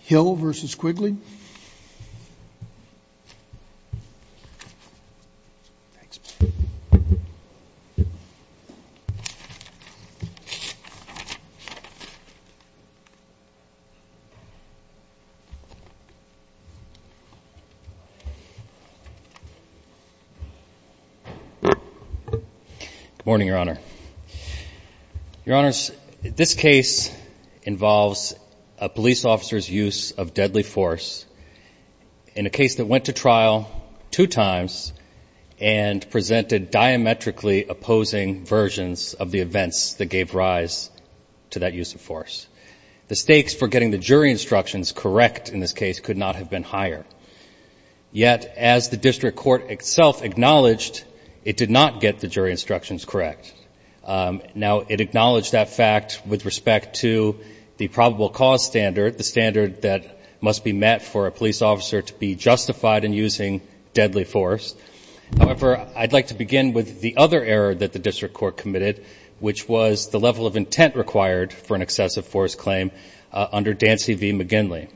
Hill versus Quigley Good morning, Your Honor. Your Honors, this case involves a police officer's use of deadly force in a case that went to trial two times and presented diametrically opposing versions of the events that gave rise to that use of force. The stakes for getting the jury instructions correct in this case could not have been higher. Yet, as the district court itself acknowledged, it did not get the jury instructions correct. Now, it acknowledged that fact with respect to the probable cause standard, the standard that must be met for a police officer to be justified in using deadly force. However, I'd like to begin with the other error that the district court committed, which was the level of intent required for an excessive force claim under Dancy v. McGinley.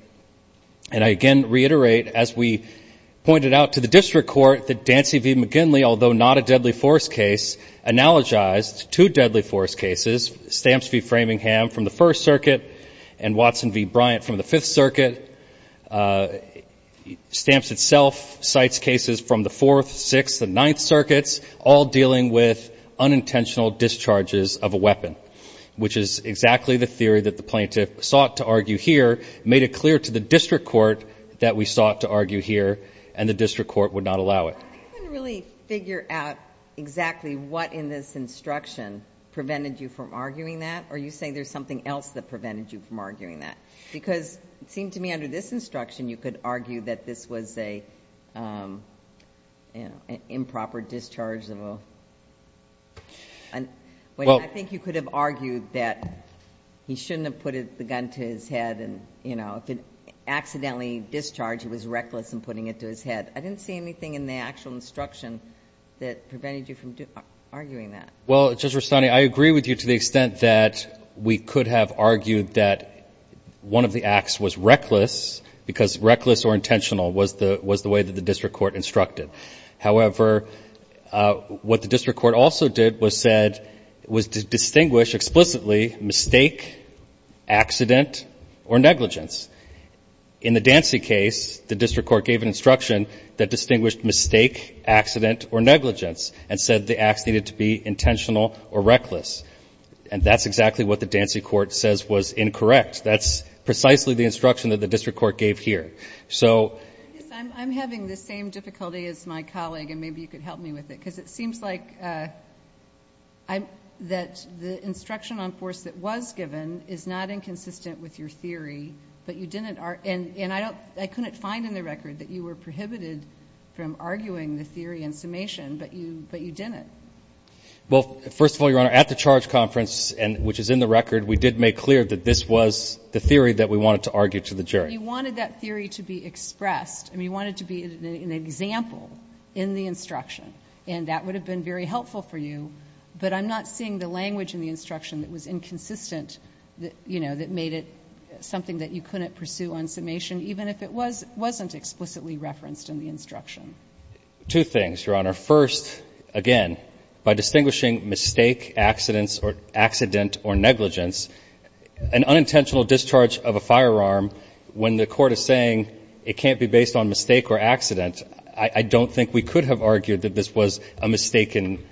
And I again reiterate, as we pointed out to the district court, that Dancy v. McGinley, although not a deadly force case, analogized two deadly force cases, Stamps v. Framingham from the First Circuit and Watson v. Bryant from the Fifth Circuit. Stamps itself cites cases from the fourth, sixth and ninth circuits, all dealing with unintentional discharges of a weapon, which is exactly the theory that the district court made it clear to the district court that we sought to argue here, and the district court would not allow it. I couldn't really figure out exactly what in this instruction prevented you from arguing that, or are you saying there's something else that prevented you from arguing that? Because it seemed to me under this instruction, you could argue that this was an improper discharge of a, I think you could have argued that he shouldn't have put the gun to his head and, you know, if it accidentally discharged, he was reckless in putting it to his head. I didn't see anything in the actual instruction that prevented you from arguing that. Well, Judge Rustani, I agree with you to the extent that we could have argued that one of the acts was reckless because reckless or intentional was the way that the district court instructed. However, what the district court also did was said, was to distinguish explicitly mistake, accident or negligence. In the Dancy case, the district court gave an instruction that distinguished mistake, accident or negligence and said the acts needed to be intentional or reckless. And that's exactly what the Dancy court says was incorrect. That's precisely the instruction that the district court gave here. So I'm having the same difficulty as my colleague and maybe you could help me with it because it seems like I'm that the instruction on force that was given is not inconsistent with your theory, but you didn't are. And I couldn't find in the record that you were prohibited from arguing the theory and summation, but you, but you didn't. Well, first of all, your honor, at the charge conference and which is in the record, we did make clear that this was the theory that we wanted to argue to the jury. But you wanted that theory to be expressed and we wanted to be an example in the instruction and that would have been very helpful for you. But I'm not seeing the language in the instruction that was inconsistent that, you know, that made it something that you couldn't pursue on summation, even if it was, wasn't explicitly referenced in the instruction. Two things, your honor. First, again, by distinguishing mistake accidents or accident or negligence, an unintentional discharge of a firearm when the court is saying it can't be based on mistake or accident, I don't think we could have argued that this was a mistaken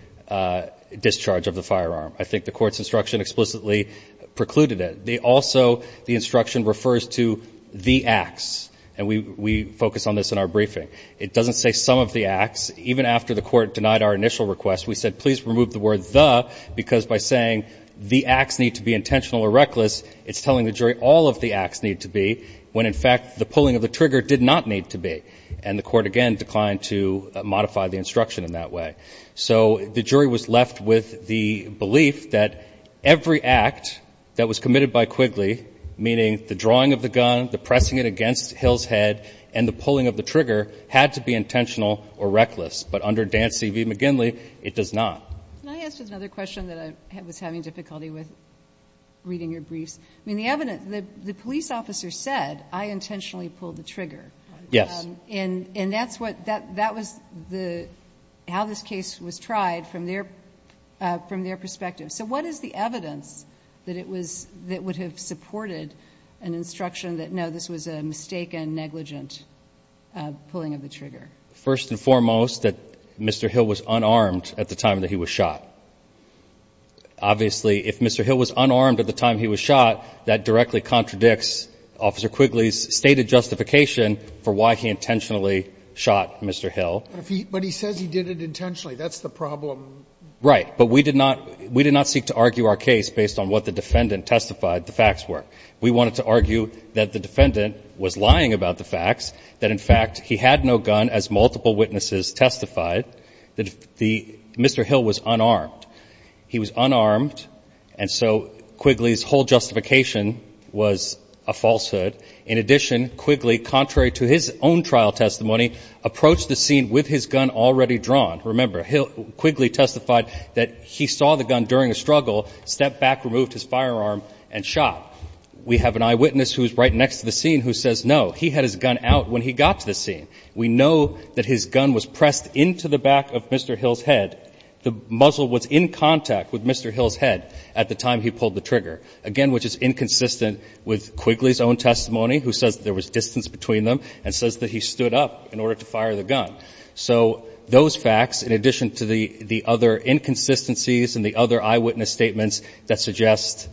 discharge of the firearm. I think the court's instruction explicitly precluded it. They also the instruction refers to the acts and we focus on this in our briefing. It doesn't say some of the acts, even after the court denied our initial request, we said, please remove the word the, because by saying the acts need to be intentional or reckless, it's telling the jury all of the acts need to be when in fact the pulling of the trigger did not need to be. And the court again declined to modify the instruction in that way. So the jury was left with the belief that every act that was committed by Quigley, meaning the drawing of the gun, the pressing it against Hill's head, and the pulling of the trigger had to be intentional or reckless, but under Dan C.V. McGinley, it does not. Can I ask just another question that I was having difficulty with reading your briefs? I mean, the evidence, the police officer said, I intentionally pulled the trigger. Yes. And, and that's what that, that was the, how this case was tried from their, uh, from their perspective. So what is the evidence that it was that would have supported an instruction that, no, this was a mistaken, negligent, uh, pulling of the trigger. First and foremost, that Mr. Hill was unarmed at the time that he was shot. Obviously, if Mr. Hill was unarmed at the time he was shot, that directly contradicts Officer Quigley's stated justification for why he intentionally shot Mr. Hill. But if he, but he says he did it intentionally, that's the problem. Right. But we did not, we did not seek to argue our case based on what the defendant testified the facts were. We wanted to argue that the defendant was lying about the facts, that in fact he had no gun as multiple witnesses testified that the Mr. Hill was unarmed. He was unarmed. And so Quigley's whole justification was a falsehood. In addition, Quigley, contrary to his own trial testimony, approached the scene with his gun already drawn. Remember, Quigley testified that he saw the gun during a struggle, stepped back, removed his firearm, and shot. We have an eyewitness who's right next to the scene who says, no, he had his gun out when he got to the scene. We know that his gun was pressed into the back of Mr. Hill's head. The muzzle was in contact with Mr. Hill's head at the time he pulled the trigger. Again, which is inconsistent with Quigley's own testimony, who says there was distance between them, and says that he stood up in order to fire the gun. So those facts, in addition to the other inconsistencies and the other eyewitness statements that suggest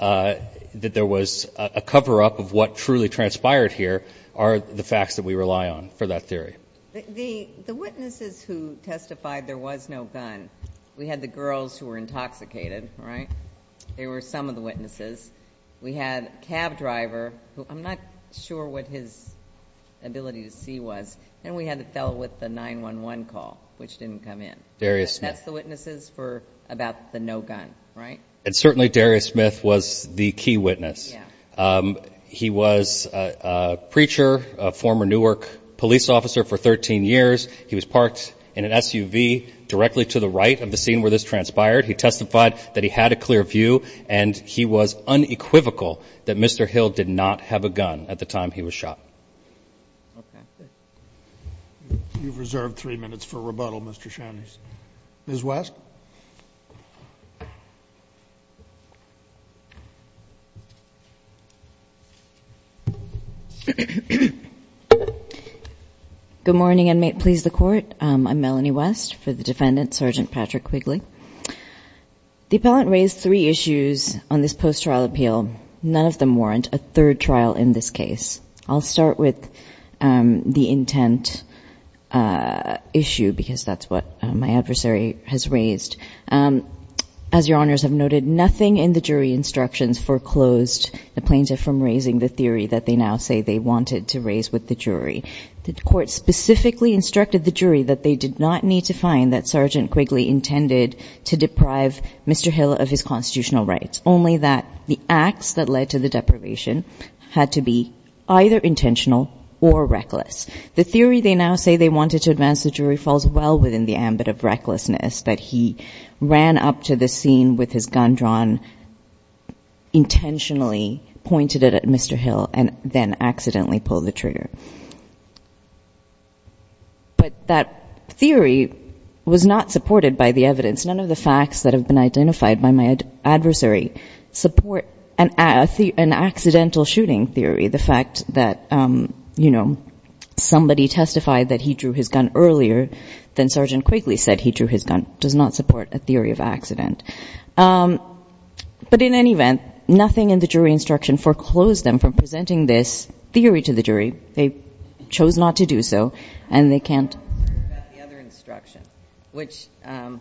that there was a cover-up of what truly transpired here, are the facts that we rely on. For that theory. The witnesses who testified there was no gun, we had the girls who were intoxicated, right? They were some of the witnesses. We had a cab driver, who I'm not sure what his ability to see was. And we had the fellow with the 911 call, which didn't come in. Darius Smith. That's the witnesses for about the no gun, right? And certainly Darius Smith was the key witness. He was a preacher, a former Newark police officer for 13 years. He was parked in an SUV directly to the right of the scene where this transpired. He testified that he had a clear view and he was unequivocal that Mr. Hill did not have a gun at the time he was shot. You've reserved three minutes for rebuttal, Mr. Shanice. Ms. Good morning and may it please the court. I'm Melanie West for the defendant, Sergeant Patrick Quigley. The appellant raised three issues on this post-trial appeal. None of them warrant a third trial in this case. I'll start with the intent issue because that's what my adversary has raised. As your honors have noted, nothing in the jury instructions foreclosed the plaintiff from raising the theory that they now say they wanted to raise with the jury. The court specifically instructed the jury that they did not need to find that Sergeant Quigley intended to deprive Mr. Hill of his constitutional rights, only that the acts that led to the deprivation had to be either intentional or reckless. The theory they now say they wanted to advance the jury falls well within the ambit of recklessness that he ran up to the scene with his gun drawn, intentionally pointed it at Mr. Hill, and then accidentally pulled the trigger. But that theory was not supported by the evidence. None of the facts that have been identified by my adversary support an accidental shooting theory. The fact that somebody testified that he drew his gun earlier than Sergeant Quigley said he drew his gun does not support a theory of accident. But in any event, nothing in the jury instruction foreclosed them from presenting this theory to the jury. They chose not to do so, and they can't. The other instruction, which-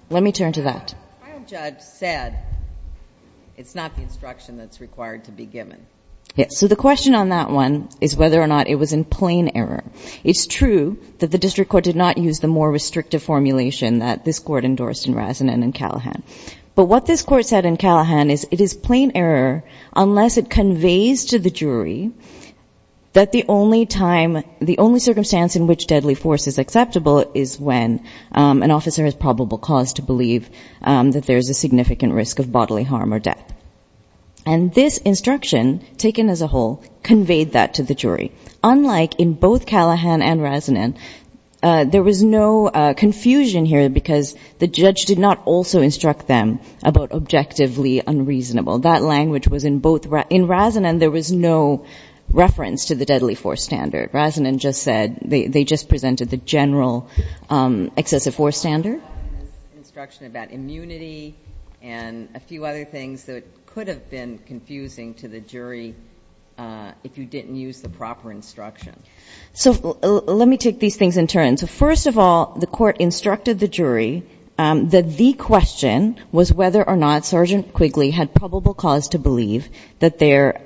Let me turn to that. The trial judge said it's not the instruction that's required to be given. Yes, so the question on that one is whether or not it was in plain error. It's true that the district court did not use the more restrictive formulation that this court endorsed in Razanen and Callahan. But what this court said in Callahan is it is plain error unless it conveys to the jury that the only circumstance in which deadly force is acceptable is when an officer has probable cause to believe that there's a significant risk of bodily harm or death. And this instruction, taken as a whole, conveyed that to the jury. Unlike in both Callahan and Razanen, there was no confusion here because the judge did not also instruct them about objectively unreasonable. That language was in both- In Razanen, there was no reference to the deadly force standard. Razanen just said they just presented the general excessive force standard. The instruction about immunity and a few other things that could have been confusing to the jury if you didn't use the proper instruction. So let me take these things in turn. So first of all, the court instructed the jury that the question was whether or not Sergeant Quigley had probable cause to believe that there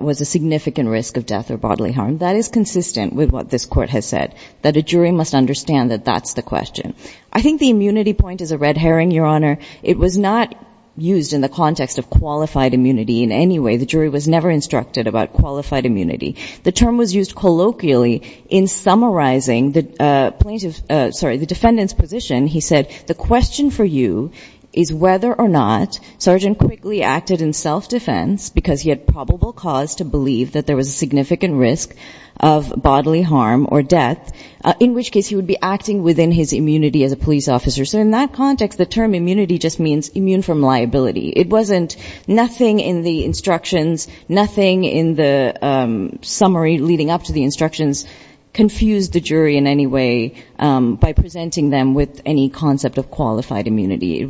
was a significant risk of death or bodily harm. That is consistent with what this court has said, that a jury must understand that that's the question. I think the immunity point is a red herring, Your Honor. It was not used in the context of qualified immunity in any way. The jury was never instructed about qualified immunity. The term was used colloquially in summarizing the defendant's position. He said the question for you is whether or not Sergeant Quigley acted in self-defense because he had probable cause to believe that there was a significant risk of bodily harm or death, in which case he would be acting within his immunity as a police officer. So in that context, the term immunity just means immune from liability. It wasn't nothing in the instructions, nothing in the summary leading up to the instructions, confused the jury in any way by presenting them with any concept of qualified immunity. It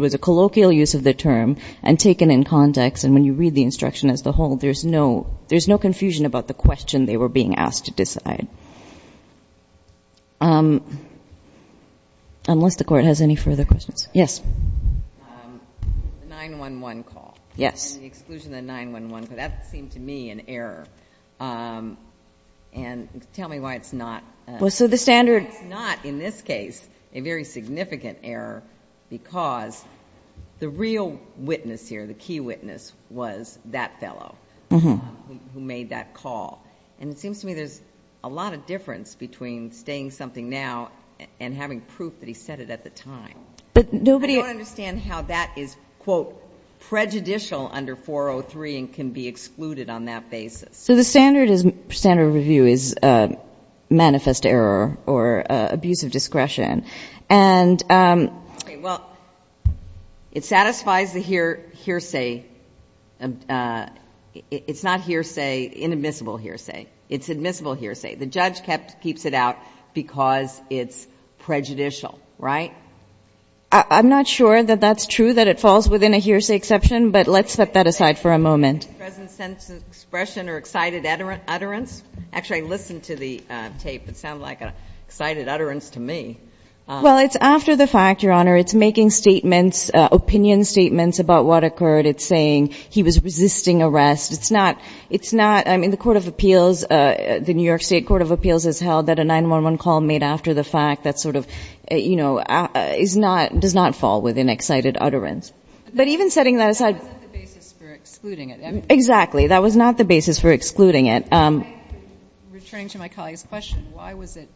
was a colloquial use of the term and taken in context. And when you read the instruction as the whole, there's no confusion about the question they were being asked to decide. Unless the court has any further questions. Yes. The 911 call. Yes. And the exclusion of the 911, because that seemed to me an error. And tell me why it's not. Well, so the standard. It's not, in this case, a very significant error because the real witness here, the key witness, was that fellow who made that call. And it seems to me there's a lot of difference between saying something now and having proof that he said it at the time. I don't understand how that is, quote, prejudicial under 403 and can be excluded on that basis. So the standard of review is manifest error or abuse of discretion. And it satisfies the hearsay. It's not hearsay, inadmissible hearsay. It's admissible hearsay. The judge keeps it out because it's prejudicial. Right? I'm not sure that that's true, that it falls within a hearsay exception. But let's set that aside for a moment. Present sense of expression or excited utterance. Actually, I listened to the tape. It sounded like an excited utterance to me. Well, it's after the fact, Your Honor. It's making statements, opinion statements about what occurred. It's saying he was resisting arrest. It's not, I mean, the court of appeals, the New York State Court of Appeals has held that a 911 call made after the fact, that sort of, you know, is not, does not fall within excited utterance. But even setting that aside. That wasn't the basis for excluding it. Exactly. That was not the basis for excluding it. Returning to my colleague's question, why was it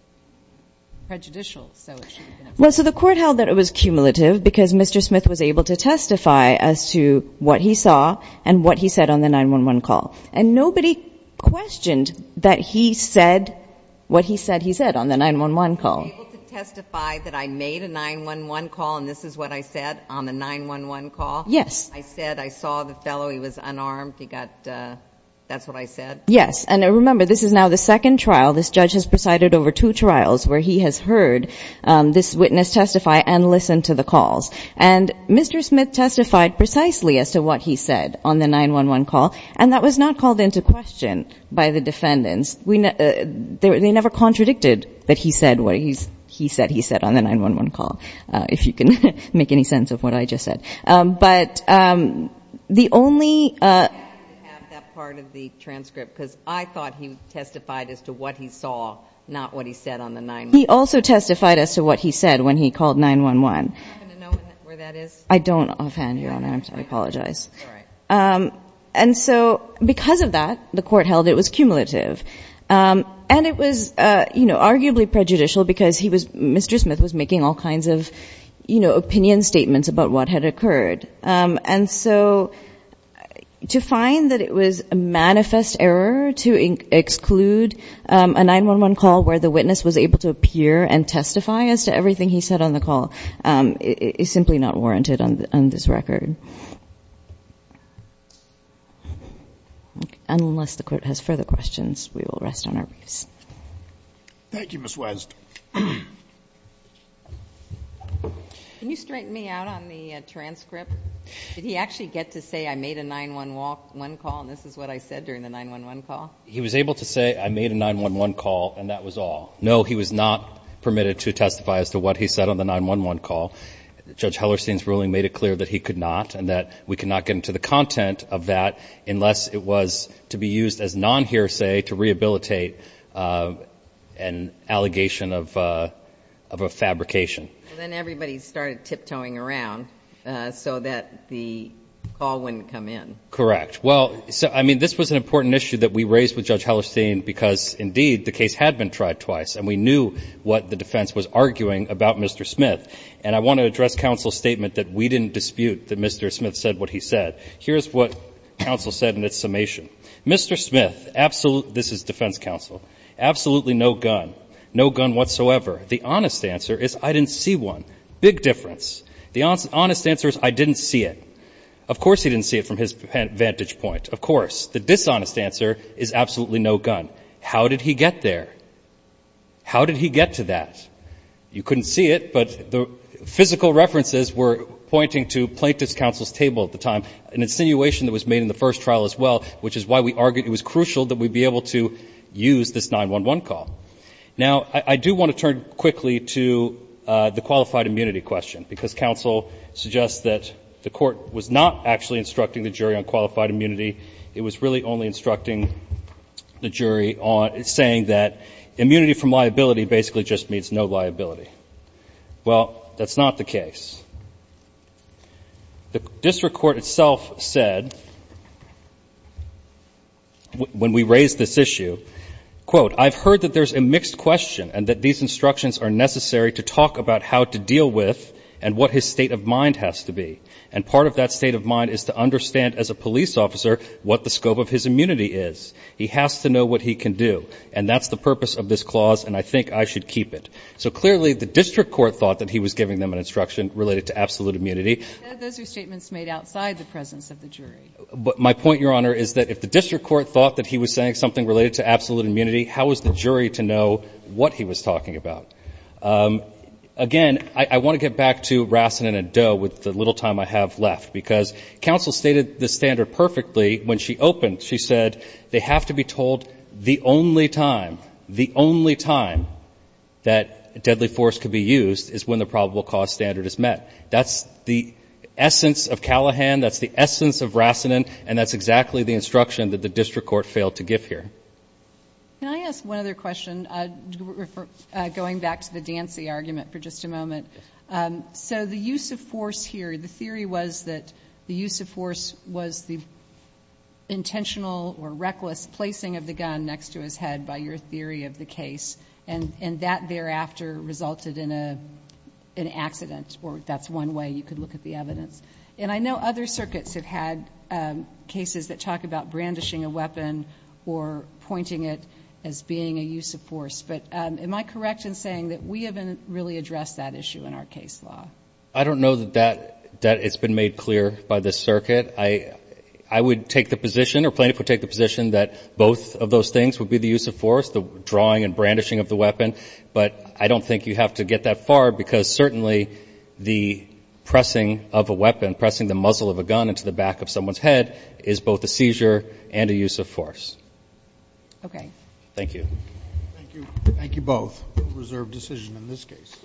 prejudicial so it should have been excluded? Well, so the court held that it was cumulative because Mr. Smith was able to testify as to what he saw and what he said on the 911 call. And nobody questioned that he said what he said he said on the 911 call. I was able to testify that I made a 911 call and this is what I said on the 911 call? Yes. I said I saw the fellow, he was unarmed, he got, that's what I said? Yes. And remember, this is now the second trial. This judge has presided over two trials where he has heard this witness testify and listened to the calls. And Mr. Smith testified precisely as to what he said on the 911 call. And that was not called into question by the defendants. They never contradicted that he said what he said he said on the 911 call, if you can make any sense of what I just said. But the only... I have to have that part of the transcript because I thought he testified as to what he saw, not what he said on the 911 call. He also testified as to what he said when he called 911. Do you happen to know where that is? I don't offhand, Your Honor. I'm sorry. I apologize. All right. And so because of that, the court held it was cumulative. And it was, you know, arguably prejudicial because he was, Mr. Smith was making all kinds of, you know, opinion statements about what had occurred. And so to find that it was a manifest error to exclude a 911 call where the witness was able to appear and testify as to everything he said on the call is simply not warranted on this record. Unless the court has further questions, we will rest on our wreaths. Thank you, Ms. West. Can you straighten me out on the transcript? Did he actually get to say I made a 911 call and this is what I said during the 911 call? He was able to say I made a 911 call and that was all. No, he was not permitted to testify as to what he said on the 911 call. Judge Hellerstein's ruling made it clear that he could not and that we could not get into the content of that unless it was to be used as non-hearsay to rehabilitate an allegation of a fabrication. Then everybody started tiptoeing around so that the call wouldn't come in. Correct. Well, I mean, this was an important issue that we raised with Judge Hellerstein because, indeed, the case had been tried twice. And we knew what the defense was arguing about Mr. Smith. And I want to address counsel's statement that we didn't dispute that Mr. Smith said what he said. Here's what counsel said in its summation. Mr. Smith, this is defense counsel, absolutely no gun, no gun whatsoever. The honest answer is I didn't see one. Big difference. The honest answer is I didn't see it. Of course he didn't see it from his vantage point. Of course. The dishonest answer is absolutely no gun. How did he get there? How did he get to that? You couldn't see it, but the physical references were pointing to plaintiff's counsel's table at the time, an insinuation that was made in the first trial as well, which is why we argued it was crucial that we be able to use this 911 call. Now, I do want to turn quickly to the qualified immunity question, because counsel suggests that the Court was not actually instructing the jury on qualified immunity. It was really only instructing the jury on saying that immunity from liability basically just means no liability. Well, that's not the case. The district court itself said, when we raised this issue, quote, I've heard that there's a mixed question and that these instructions are necessary to talk about how to deal with and what his state of mind has to be. And part of that state of mind is to understand, as a police officer, what the scope of his immunity is. He has to know what he can do. And that's the purpose of this clause, and I think I should keep it. So clearly, the district court thought that he was giving them an instruction related to absolute immunity. Those are statements made outside the presence of the jury. But my point, Your Honor, is that if the district court thought that he was saying something related to absolute immunity, how was the jury to know what he was talking about? Again, I want to get back to Rassanen and Doe with the little time I have left, because counsel stated the standard perfectly when she opened. She said, they have to be told the only time, the only time that deadly force could be used is when the probable cause standard is met. That's the essence of Callahan, that's the essence of Rassanen, and that's exactly the instruction that the district court failed to give here. Can I ask one other question? Going back to the Dancy argument for just a moment. So the use of force here, the theory was that the use of force was the intentional or reckless placing of the gun next to his head by your theory of the case, and that thereafter resulted in an accident, or that's one way you could look at the evidence. And I know other circuits have had cases that talk about brandishing a weapon or pointing it as being a use of force. But am I correct in saying that we haven't really addressed that issue in our case law? I don't know that it's been made clear by this circuit. I would take the position, or plaintiff would take the position, that both of those things would be the use of force, the drawing and brandishing of the weapon. But I don't think you have to get that far, because certainly the pressing of a weapon, pressing the muzzle of a gun into the back of someone's head, is both a seizure and a use of force. Okay. Thank you. Thank you. Thank you both. Reserve decision in this case.